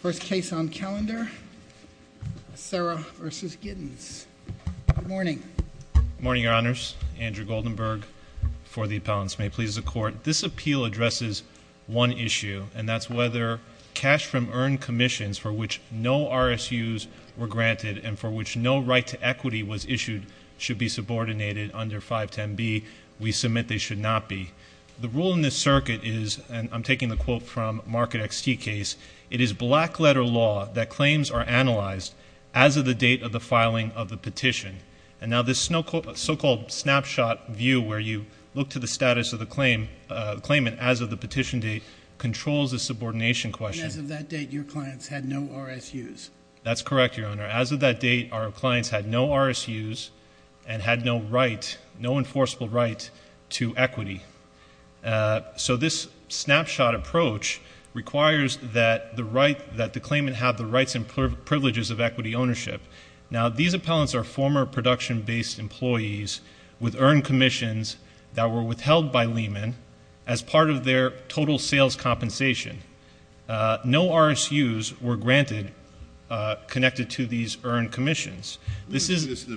First case on calendar, Serra v. Giddens. Good morning. Morning, your honors. Andrew Goldenberg for the appellants. May it please the court. This appeal addresses one issue, and that's whether cash from earned commissions for which no RSUs were granted and for which no right to equity was issued should be subordinated under 510B. We submit they should not be. The rule in this circuit is, and I'm taking the quote from Market XT case. It is black letter law that claims are analyzed as of the date of the filing of the petition. And now this so-called snapshot view where you look to the status of the claimant as of the petition date controls the subordination question. And as of that date, your clients had no RSUs. That's correct, your honor. As of that date, our clients had no RSUs and had no enforceable right to equity. So this snapshot approach requires that the claimant have the rights and privileges of equity ownership. Now these appellants are former production based employees with earned commissions that were withheld by Lehman as part of their total sales compensation. No RSUs were granted connected to these earned commissions. This is- The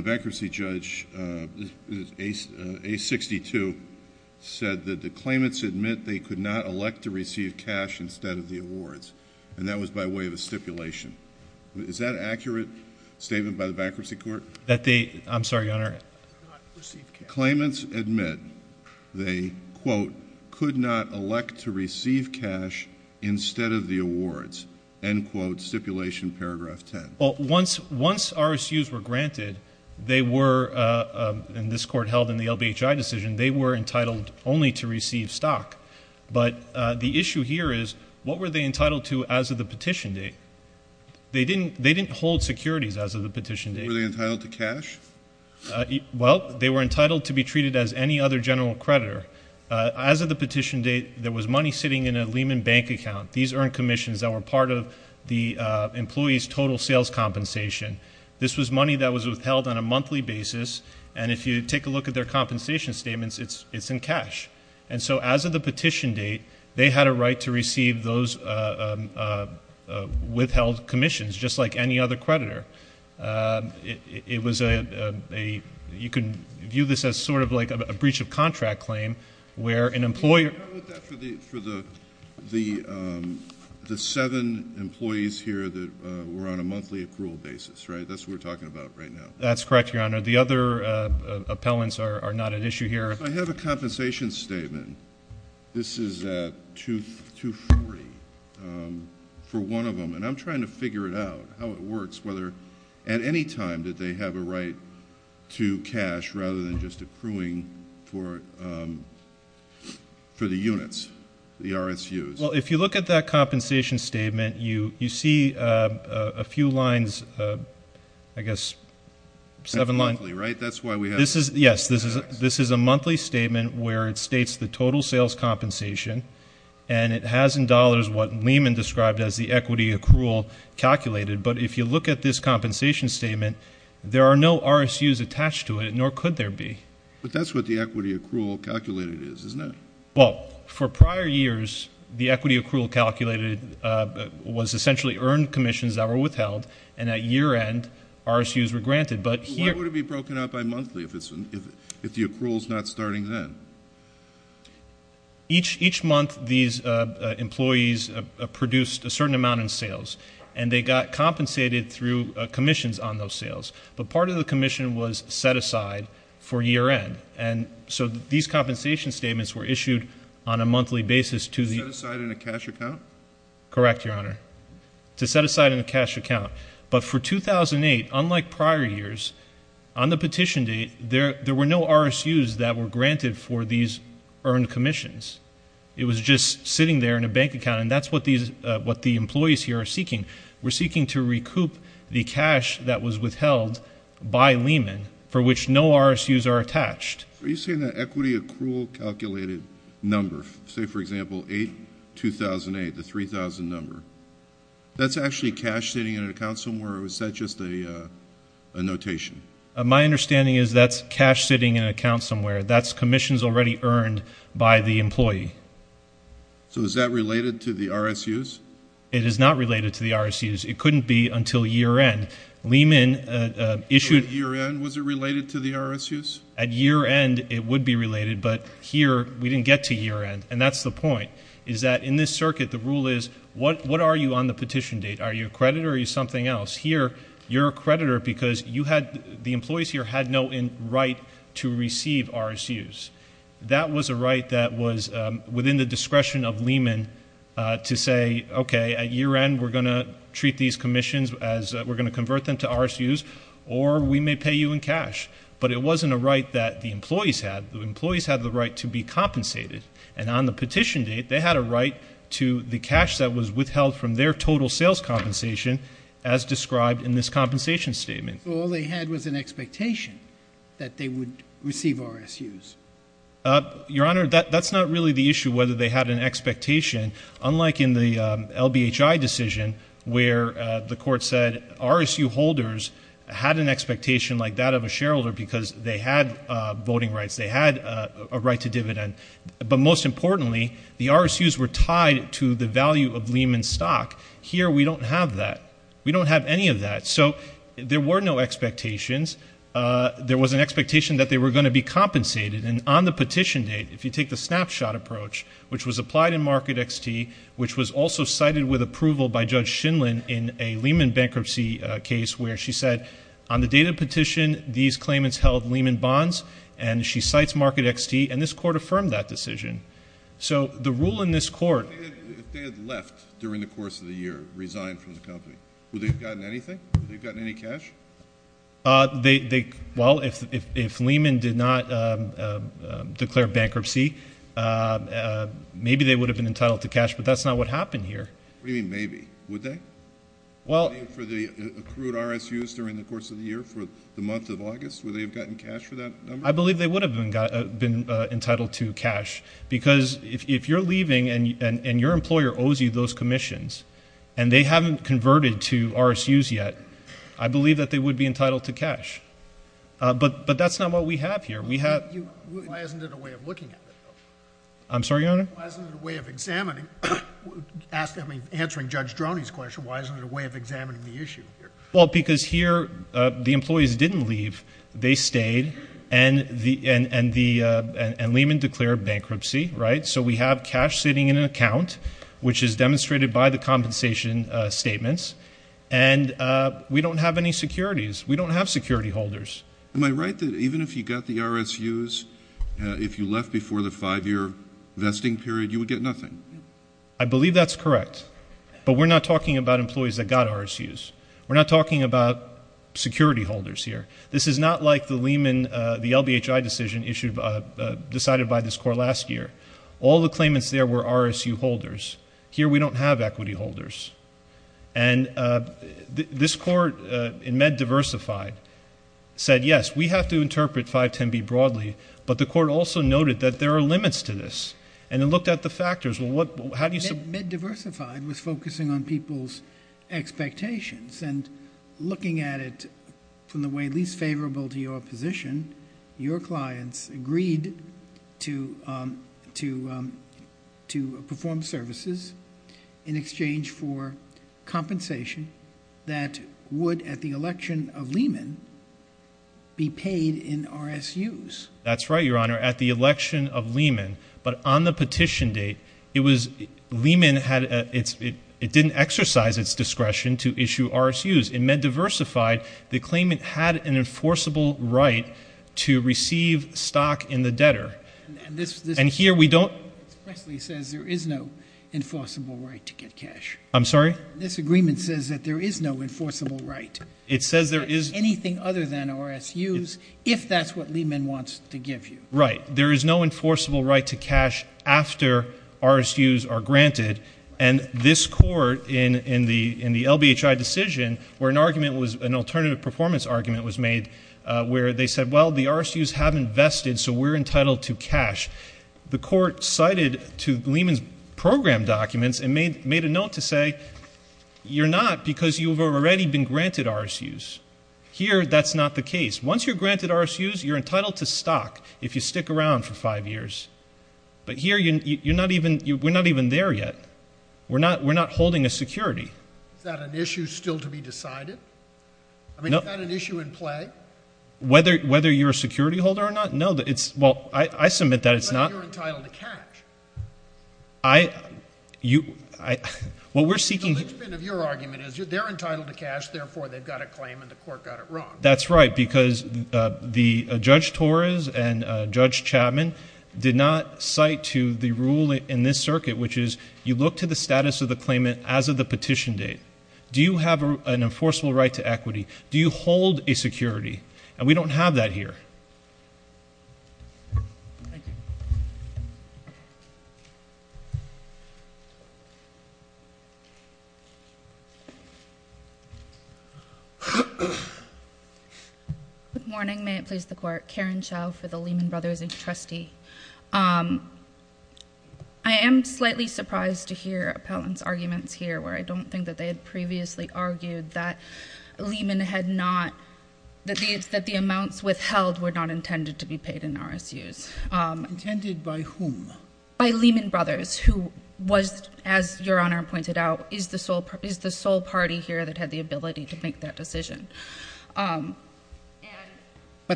bankruptcy judge, A62, said that the claimants admit they could not elect to receive cash instead of the awards. And that was by way of a stipulation. Is that an accurate statement by the bankruptcy court? That they, I'm sorry, your honor. Claimants admit they, quote, could not elect to receive cash instead of the awards. End quote, stipulation paragraph ten. Once RSUs were granted, they were, and this court held in the LBHI decision, they were entitled only to receive stock, but the issue here is, what were they entitled to as of the petition date? They didn't hold securities as of the petition date. Were they entitled to cash? Well, they were entitled to be treated as any other general creditor. As of the petition date, there was money sitting in a Lehman bank account. These earned commissions that were part of the employee's total sales compensation. This was money that was withheld on a monthly basis. And if you take a look at their compensation statements, it's in cash. And so as of the petition date, they had a right to receive those withheld commissions, just like any other creditor. It was a, you can view this as sort of like a breach of contract claim, where an employer- I'm with that for the seven employees here that were on a monthly accrual basis, right? That's what we're talking about right now. That's correct, your honor. The other appellants are not at issue here. I have a compensation statement. This is at 240 for one of them. And I'm trying to figure it out, how it works, whether at any time did they have a right to cash rather than just accruing for the units, the RSUs? Well, if you look at that compensation statement, you see a few lines, I guess, seven lines. Monthly, right? That's why we have- Yes, this is a monthly statement where it states the total sales compensation. And it has in dollars what Lehman described as the equity accrual calculated. But if you look at this compensation statement, there are no RSUs attached to it, nor could there be. But that's what the equity accrual calculated is, isn't it? Well, for prior years, the equity accrual calculated was essentially earned commissions that were withheld. And at year end, RSUs were granted. But here- Why would it be broken up by monthly if the accrual's not starting then? Each month, these employees produced a certain amount in sales. And they got compensated through commissions on those sales. But part of the commission was set aside for year end. And so these compensation statements were issued on a monthly basis to the- To set aside in a cash account? Correct, Your Honor. To set aside in a cash account. But for 2008, unlike prior years, on the petition date, there were no RSUs that were granted for these earned commissions. It was just sitting there in a bank account. And that's what the employees here are seeking. We're seeking to recoup the cash that was withheld by Lehman for which no RSUs are attached. Are you saying that equity accrual calculated number, say for example, 8-2008, the 3,000 number, that's actually cash sitting in an account somewhere, or is that just a notation? My understanding is that's cash sitting in an account somewhere. That's commissions already earned by the employee. So is that related to the RSUs? It is not related to the RSUs. It couldn't be until year end. Lehman issued- So at year end, was it related to the RSUs? At year end, it would be related. But here, we didn't get to year end. And that's the point, is that in this circuit, the rule is, what are you on the petition date? Are you a creditor or are you something else? Here, you're a creditor because the employees here had no right to receive RSUs. That was a right that was within the discretion of Lehman to say, okay, at year end, we're going to treat these commissions as we're going to convert them to RSUs, or we may pay you in cash. But it wasn't a right that the employees had. The employees had the right to be compensated. And on the petition date, they had a right to the cash that was withheld from their total sales compensation, as described in this compensation statement. So all they had was an expectation that they would receive RSUs? Your Honor, that's not really the issue, whether they had an expectation. Unlike in the LBHI decision, where the court said, RSU holders had an expectation like that of a shareholder because they had voting rights. They had a right to dividend. But most importantly, the RSUs were tied to the value of Lehman stock. Here, we don't have that. We don't have any of that. So there were no expectations. There was an expectation that they were going to be compensated. And on the petition date, if you take the snapshot approach, which was applied in Market XT, which was also cited with approval by Judge Shindlin in a Lehman bankruptcy case where she said, on the date of petition, these claimants held Lehman bonds, and she cites Market XT. And this court affirmed that decision. So the rule in this court- If they had left during the course of the year, resigned from the company, would they have gotten anything? Would they have gotten any cash? Well, if Lehman did not declare bankruptcy, maybe they would have been entitled to cash, but that's not what happened here. What do you mean maybe? Would they? Well- For the accrued RSUs during the course of the year, for the month of August, would they have gotten cash for that number? I believe they would have been entitled to cash. Because if you're leaving and your employer owes you those commissions, and they haven't converted to RSUs yet, I believe that they would be entitled to cash. But that's not what we have here. We have- Why isn't it a way of looking at it, though? I'm sorry, Your Honor? Why isn't it a way of examining, answering Judge Droney's question, why isn't it a way of examining the issue here? Well, because here, the employees didn't leave. They stayed, and Lehman declared bankruptcy, right? So we have cash sitting in an account, which is demonstrated by the compensation statements, and we don't have any securities. We don't have security holders. Am I right that even if you got the RSUs, if you left before the five-year vesting period, you would get nothing? I believe that's correct. But we're not talking about employees that got RSUs. We're not talking about security holders here. This is not like the Lehman, the LBHI decision decided by this court last year. All the claimants there were RSU holders. Here, we don't have equity holders. And this court in MedDiversified said, yes, we have to interpret 510B broadly, but the court also noted that there are limits to this, and it looked at the factors. Well, how do you- MedDiversified was focusing on people's expectations, and looking at it from the way least favorable to your position, your clients agreed to perform services in exchange for compensation that would, at the election of Lehman, be paid in RSUs. That's right, Your Honor, at the election of Lehman. But on the petition date, it was- In MedDiversified, the claimant had an enforceable right to receive stock in the debtor. And here, we don't- Mr. Presley says there is no enforceable right to get cash. I'm sorry? This agreement says that there is no enforceable right. It says there is- Anything other than RSUs, if that's what Lehman wants to give you. Right. There is no enforceable right to cash after RSUs are granted. And this court, in the LBHI decision, where an argument was- an alternative performance argument was made, where they said, well, the RSUs have invested, so we're entitled to cash. The court cited to Lehman's program documents and made a note to say, you're not because you've already been granted RSUs. Here, that's not the case. Once you're granted RSUs, you're entitled to stock if you stick around for five years. But here, you're not even- we're not even there yet. We're not holding a security. Is that an issue still to be decided? I mean, is that an issue in play? Whether you're a security holder or not? No, it's- well, I submit that it's not- But you're entitled to cash. I- you- well, we're seeking- The linchpin of your argument is they're entitled to cash, therefore, they've got a claim and the court got it wrong. That's right, because the- Judge Torres and Judge Chapman did not cite to the rule in this circuit, which is you look to the status of the claimant as of the petition date. Do you have an enforceable right to equity? Do you hold a security? And we don't have that here. Thank you. Good morning, may it please the court. Karen Chow for the Lehman Brothers trustee. I am slightly surprised to hear appellant's arguments here, where I don't think that they had previously argued that Lehman had not, that the amounts withheld were not intended to be paid in RSUs. Intended by whom? By Lehman Brothers, who was, as your honor pointed out, is the sole party here that had the ability to make that decision. But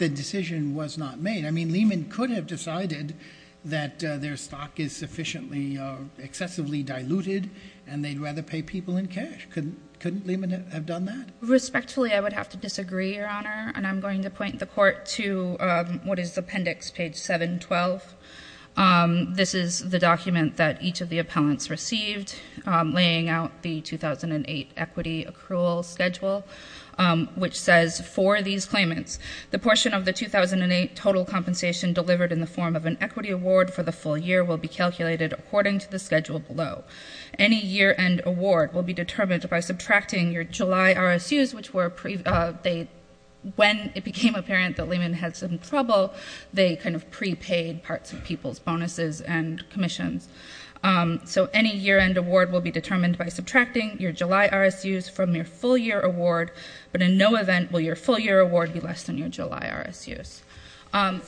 the decision was not made. I mean, Lehman could have decided that their stock is sufficiently, excessively diluted, and they'd rather pay people in cash. Couldn't Lehman have done that? Respectfully, I would have to disagree, your honor, and I'm going to point the court to what is appendix page 712. This is the document that each of the appellants received, laying out the 2008 equity accrual schedule, which says, for these claimants, the portion of the 2008 total compensation delivered in the form of an equity award for the full year will be calculated according to the schedule below. Any year-end award will be determined by subtracting your July RSUs, which were, when it became apparent that Lehman had some trouble, they kind of prepaid parts of people's bonuses and commissions. So any year-end award will be determined by subtracting your July RSUs from your full year award, but in no event will your full year award be less than your July RSUs.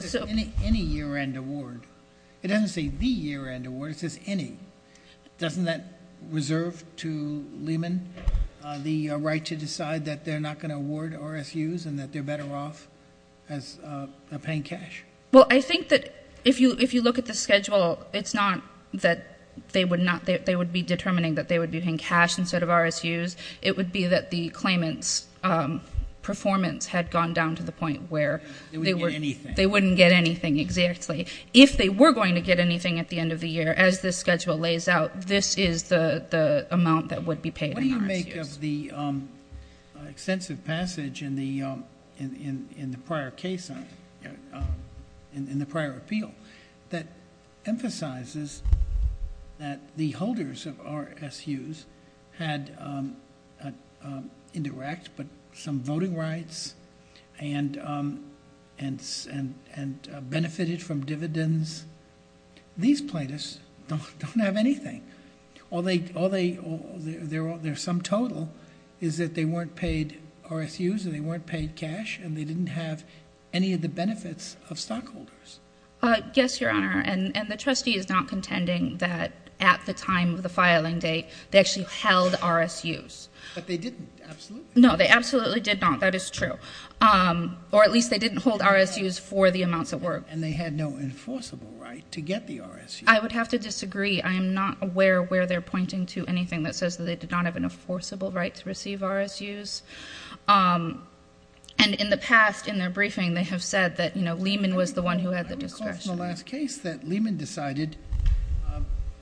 So- Any year-end award. It doesn't say the year-end award, it says any. Doesn't that reserve to Lehman the right to decide that they're not going to award RSUs and that they're better off as paying cash? Well, I think that if you look at the schedule, it's not that they would be determining that they would be paying cash instead of RSUs. It would be that the claimant's performance had gone down to the point where- They wouldn't get anything. They wouldn't get anything, exactly. If they were going to get anything at the end of the year, as this schedule lays out, this is the amount that would be paid in RSUs. What do you make of the extensive passage in the prior case, in the prior appeal, that emphasizes that the holders of RSUs had indirect but some voting rights and benefited from dividends. These plaintiffs don't have anything. All they, their sum total is that they weren't paid RSUs and they weren't paid cash and they didn't have any of the benefits of stockholders. Yes, your honor, and the trustee is not contending that at the time of the filing date, they actually held RSUs. But they didn't, absolutely. No, they absolutely did not. That is true, or at least they didn't hold RSUs for the amounts at work. And they had no enforceable right to get the RSUs. I would have to disagree. I am not aware where they're pointing to anything that says that they did not have an enforceable right to receive RSUs. And in the past, in their briefing, they have said that Lehman was the one who had the discretion. I recall from the last case that Lehman decided,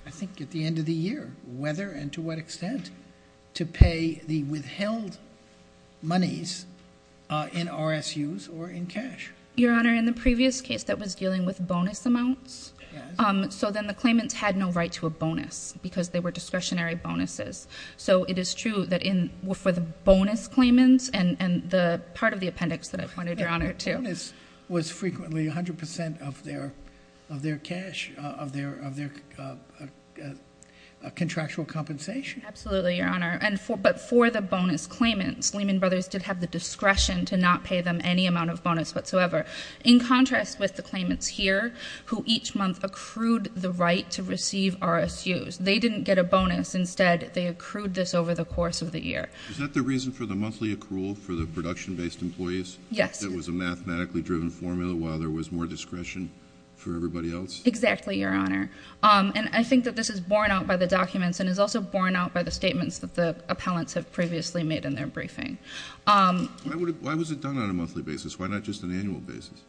I think at the end of the year, whether and to what extent to pay the withheld monies in RSUs or in cash. Your honor, in the previous case that was dealing with bonus amounts. So then the claimants had no right to a bonus because they were discretionary bonuses. So it is true that for the bonus claimants and the part of the appendix that I pointed your honor to. The bonus was frequently 100% of their cash, of their contractual compensation. Absolutely, your honor, but for the bonus claimants, Lehman Brothers did have the discretion to not pay them any amount of bonus whatsoever. In contrast with the claimants here, who each month accrued the right to receive RSUs. They didn't get a bonus. Instead, they accrued this over the course of the year. Is that the reason for the monthly accrual for the production based employees? Yes. It was a mathematically driven formula while there was more discretion for everybody else? Exactly, your honor. And I think that this is borne out by the documents and is also borne out by the statements that the appellants have previously made in their briefing. Why was it done on a monthly basis? Why not just an annual basis?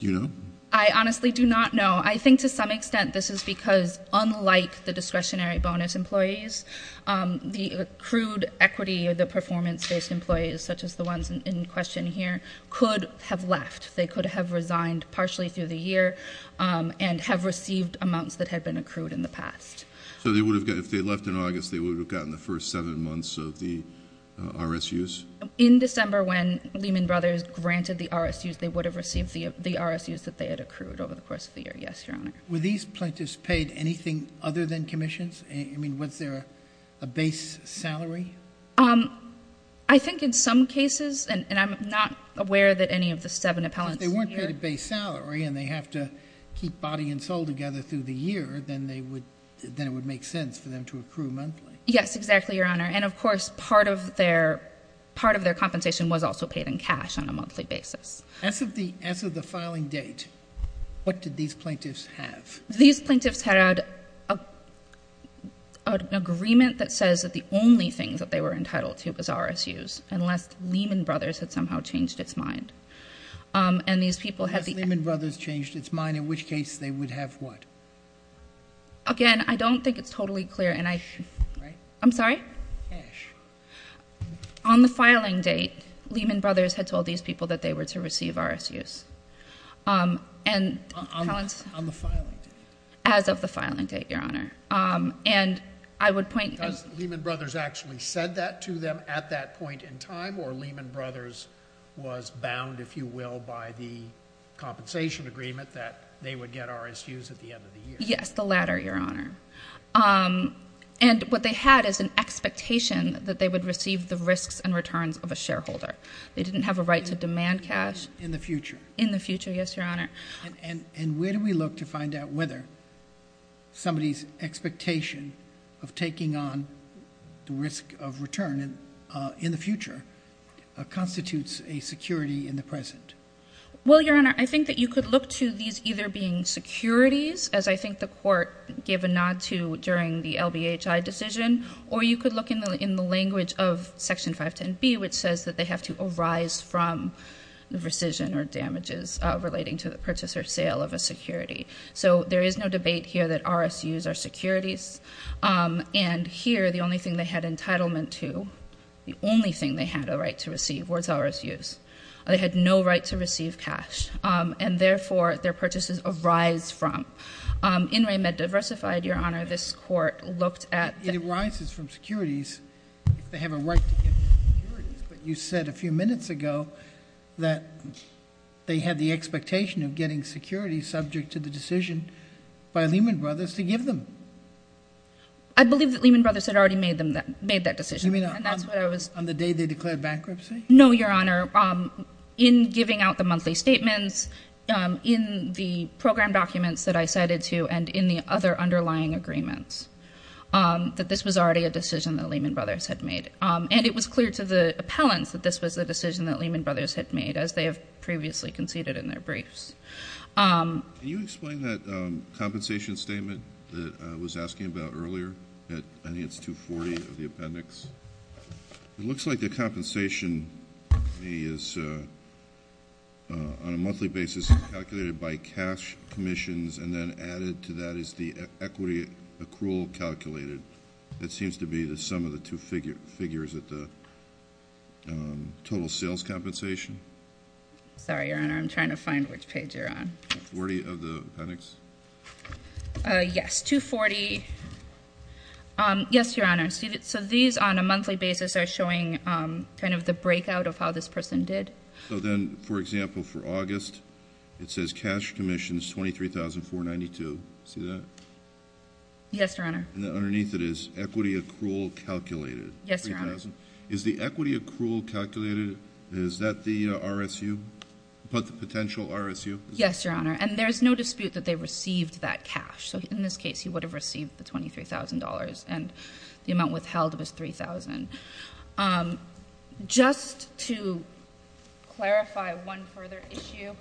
Do you know? I honestly do not know. I think to some extent this is because unlike the discretionary bonus employees, the accrued equity, the performance based employees, such as the ones in question here, could have left. They could have resigned partially through the year and have received amounts that had been accrued in the past. So if they left in August, they would have gotten the first seven months of the RSUs? In December, when Lehman Brothers granted the RSUs, they would have received the RSUs that they had accrued over the course of the year, yes, your honor. Were these plaintiffs paid anything other than commissions? I mean, was there a base salary? I think in some cases, and I'm not aware that any of the seven appellants here- If they weren't paid a base salary and they have to keep body and soul together through the year, then it would make sense for them to accrue monthly. Yes, exactly, your honor. And of course, part of their compensation was also paid in cash on a monthly basis. As of the filing date, what did these plaintiffs have? These plaintiffs had an agreement that says that the only things that they were entitled to was RSUs, unless Lehman Brothers had somehow changed its mind. And these people had the- Has Lehman Brothers changed its mind, in which case they would have what? Again, I don't think it's totally clear, and I- Cash, right? I'm sorry? Cash. On the filing date, Lehman Brothers had told these people that they were to receive RSUs. And- On the filing date. As of the filing date, your honor. And I would point- Has Lehman Brothers actually said that to them at that point in time, or Lehman Brothers was bound, if you will, by the compensation agreement that they would get RSUs at the end of the year? Yes, the latter, your honor. And what they had is an expectation that they would receive the risks and returns of a shareholder. They didn't have a right to demand cash. In the future? In the future, yes, your honor. And where do we look to find out whether somebody's expectation of taking on the risk of return in the future constitutes a security in the present? Well, your honor, I think that you could look to these either being securities, as I think the court gave a nod to during the LBHI decision, or you could look in the language of section 510B, which says that they have to arise from the rescission or damages relating to the purchase or sale of a security. So there is no debate here that RSUs are securities. And here, the only thing they had entitlement to, the only thing they had a right to receive, was RSUs. They had no right to receive cash, and therefore, their purchases arise from. In Ray Med Diversified, your honor, this court looked at- That it arises from securities if they have a right to get securities, but you said a few minutes ago that they had the expectation of getting securities subject to the decision by Lehman Brothers to give them. I believe that Lehman Brothers had already made that decision, and that's what I was- On the day they declared bankruptcy? No, your honor. In giving out the monthly statements, in the program documents that I cited to, and in the other underlying agreements, that this was already a decision that Lehman Brothers had made. And it was clear to the appellants that this was a decision that Lehman Brothers had made, as they have previously conceded in their briefs. Can you explain that compensation statement that I was asking about earlier? I think it's 240 of the appendix. It looks like the compensation is on a monthly basis calculated by cash commissions and then added to that is the equity accrual calculated. That seems to be the sum of the two figures at the total sales compensation. Sorry, your honor, I'm trying to find which page you're on. 40 of the appendix? Yes, 240. Yes, your honor, so these on a monthly basis are showing kind of the breakout of how this person did. So then, for example, for August, it says cash commissions 23,492, see that? Yes, your honor. And then underneath it is equity accrual calculated. Yes, your honor. Is the equity accrual calculated, is that the RSU, about the potential RSU? Yes, your honor, and there's no dispute that they received that cash. So in this case, he would have received the $23,000, and the amount withheld was 3,000. Just to clarify one further issue,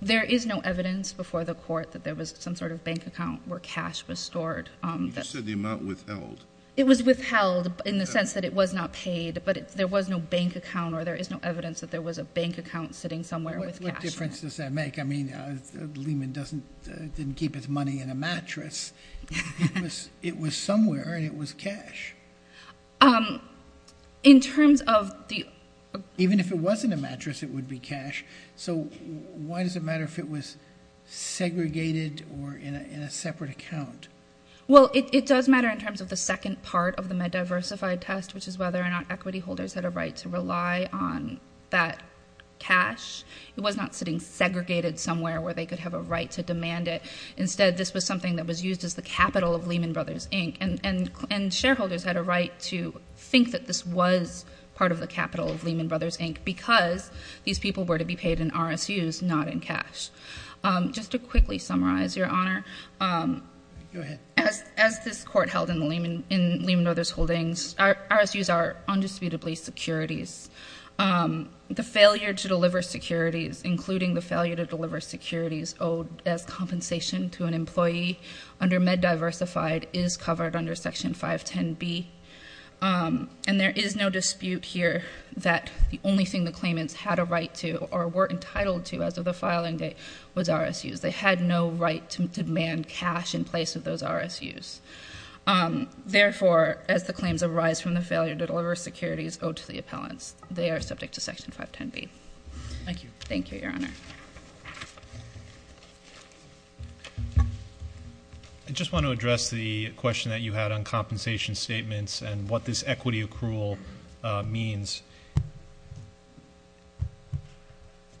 there is no evidence before the court that there was some sort of bank account where cash was stored. You just said the amount withheld. It was withheld in the sense that it was not paid, but there was no bank account or there is no evidence that there was a bank account sitting somewhere with cash. What difference does that make? I mean, Lehman didn't keep his money in a mattress. It was somewhere and it was cash. In terms of the- Even if it wasn't a mattress, it would be cash. So why does it matter if it was segregated or in a separate account? Well, it does matter in terms of the second part of the MedDiversified test, which is whether or not equity holders had a right to rely on that cash. It was not sitting segregated somewhere where they could have a right to demand it. Instead, this was something that was used as the capital of Lehman Brothers Inc. And shareholders had a right to think that this was part of the capital of Lehman Brothers Inc. because these people were to be paid in RSUs, not in cash. Just to quickly summarize, Your Honor, as this court held in Lehman Brothers Holdings, RSUs are undisputably securities. The failure to deliver securities, including the failure to deliver securities owed as compensation to an employee under MedDiversified is covered under section 510B. And there is no dispute here that the only thing the claimants had a right to or were entitled to as of the filing date was RSUs. They had no right to demand cash in place of those RSUs. Therefore, as the claims arise from the failure to deliver securities owed to the appellants, they are subject to section 510B. Thank you. Thank you, Your Honor. I just want to address the question that you had on compensation statements and what this equity accrual means.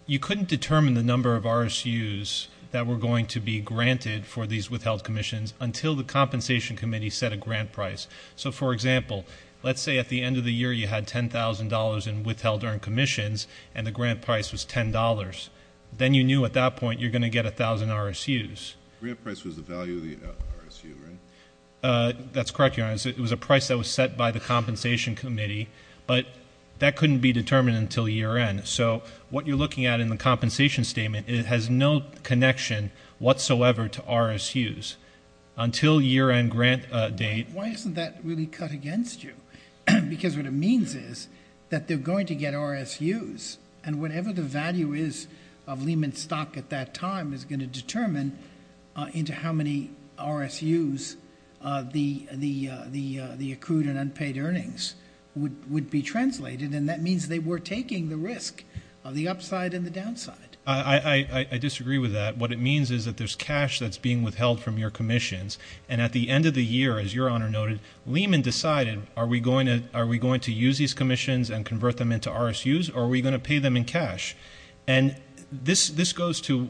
You couldn't determine the number of RSUs that were going to be granted for these withheld commissions until the compensation committee set a grant price. So for example, let's say at the end of the year you had $10,000 in withheld earned commissions and the grant price was $10. Then you knew at that point you're going to get 1,000 RSUs. The grant price was the value of the RSU, right? That's correct, Your Honor. It was a price that was set by the compensation committee, but that couldn't be determined until year end. So what you're looking at in the compensation statement, it has no connection whatsoever to RSUs. Until year end grant date- Why isn't that really cut against you? Because what it means is that they're going to get RSUs. And whatever the value is of Lehman stock at that time is going to determine into how many RSUs the accrued and unpaid earnings would be translated. And that means they were taking the risk of the upside and the downside. I disagree with that. What it means is that there's cash that's being withheld from your commissions. And at the end of the year, as Your Honor noted, Lehman decided, are we going to use these commissions and convert them into RSUs? Are we going to pay them in cash? And this goes to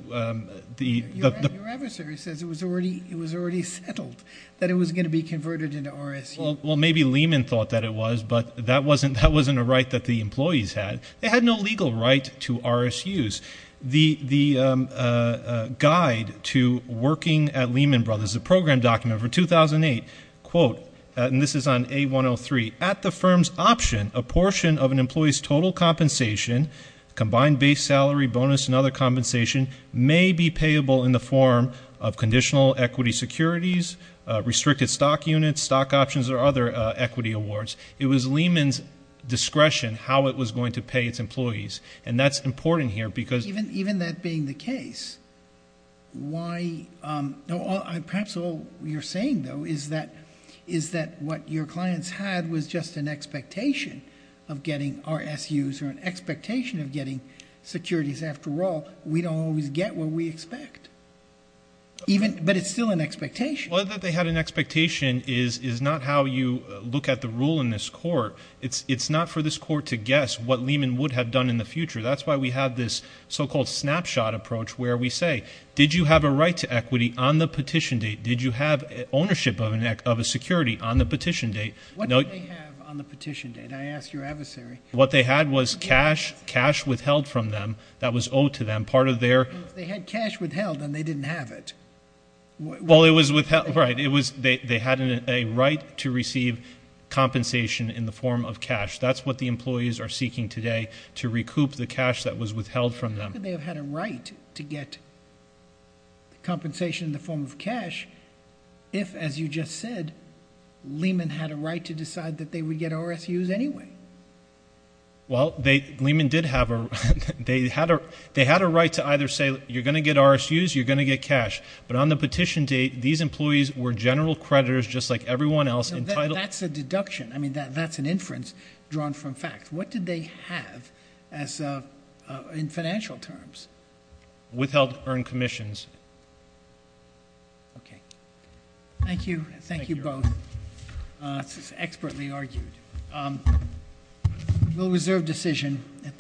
the- Your adversary says it was already settled that it was going to be converted into RSUs. Well, maybe Lehman thought that it was, but that wasn't a right that the employees had. They had no legal right to RSUs. The guide to working at Lehman Brothers, the program document for 2008, quote, and this is on A103, at the firm's option, a portion of an employee's total compensation, combined base salary, bonus, and other compensation, may be payable in the form of conditional equity securities, restricted stock units, stock options, or other equity awards. It was Lehman's discretion how it was going to pay its employees. And that's important here because- Even that being the case, why, perhaps all you're saying, though, is that what your clients had was just an expectation of getting RSUs or an expectation of getting securities. After all, we don't always get what we expect, but it's still an expectation. Well, that they had an expectation is not how you look at the rule in this court. It's not for this court to guess what Lehman would have done in the future. That's why we have this so-called snapshot approach where we say, did you have a right to equity on the petition date? Did you have ownership of a security on the petition date? What did they have on the petition date? I asked your adversary. What they had was cash, cash withheld from them. That was owed to them. Part of their- They had cash withheld and they didn't have it. Well, it was withheld, right. It was, they had a right to receive compensation in the form of cash. That's what the employees are seeking today, to recoup the cash that was withheld from them. How could they have had a right to get compensation in the form of cash if, as you just said, Lehman had a right to decide that they would get RSUs anyway? Well, they, Lehman did have a, they had a right to either say, you're going to get RSUs, you're going to get cash. But on the petition date, these employees were general creditors just like everyone else entitled- That's a deduction. I mean, that's an inference drawn from fact. What did they have as a, in financial terms? Withheld earned commissions. Okay. Thank you. Thank you both. Thank you. This is expertly argued. We'll reserve decision.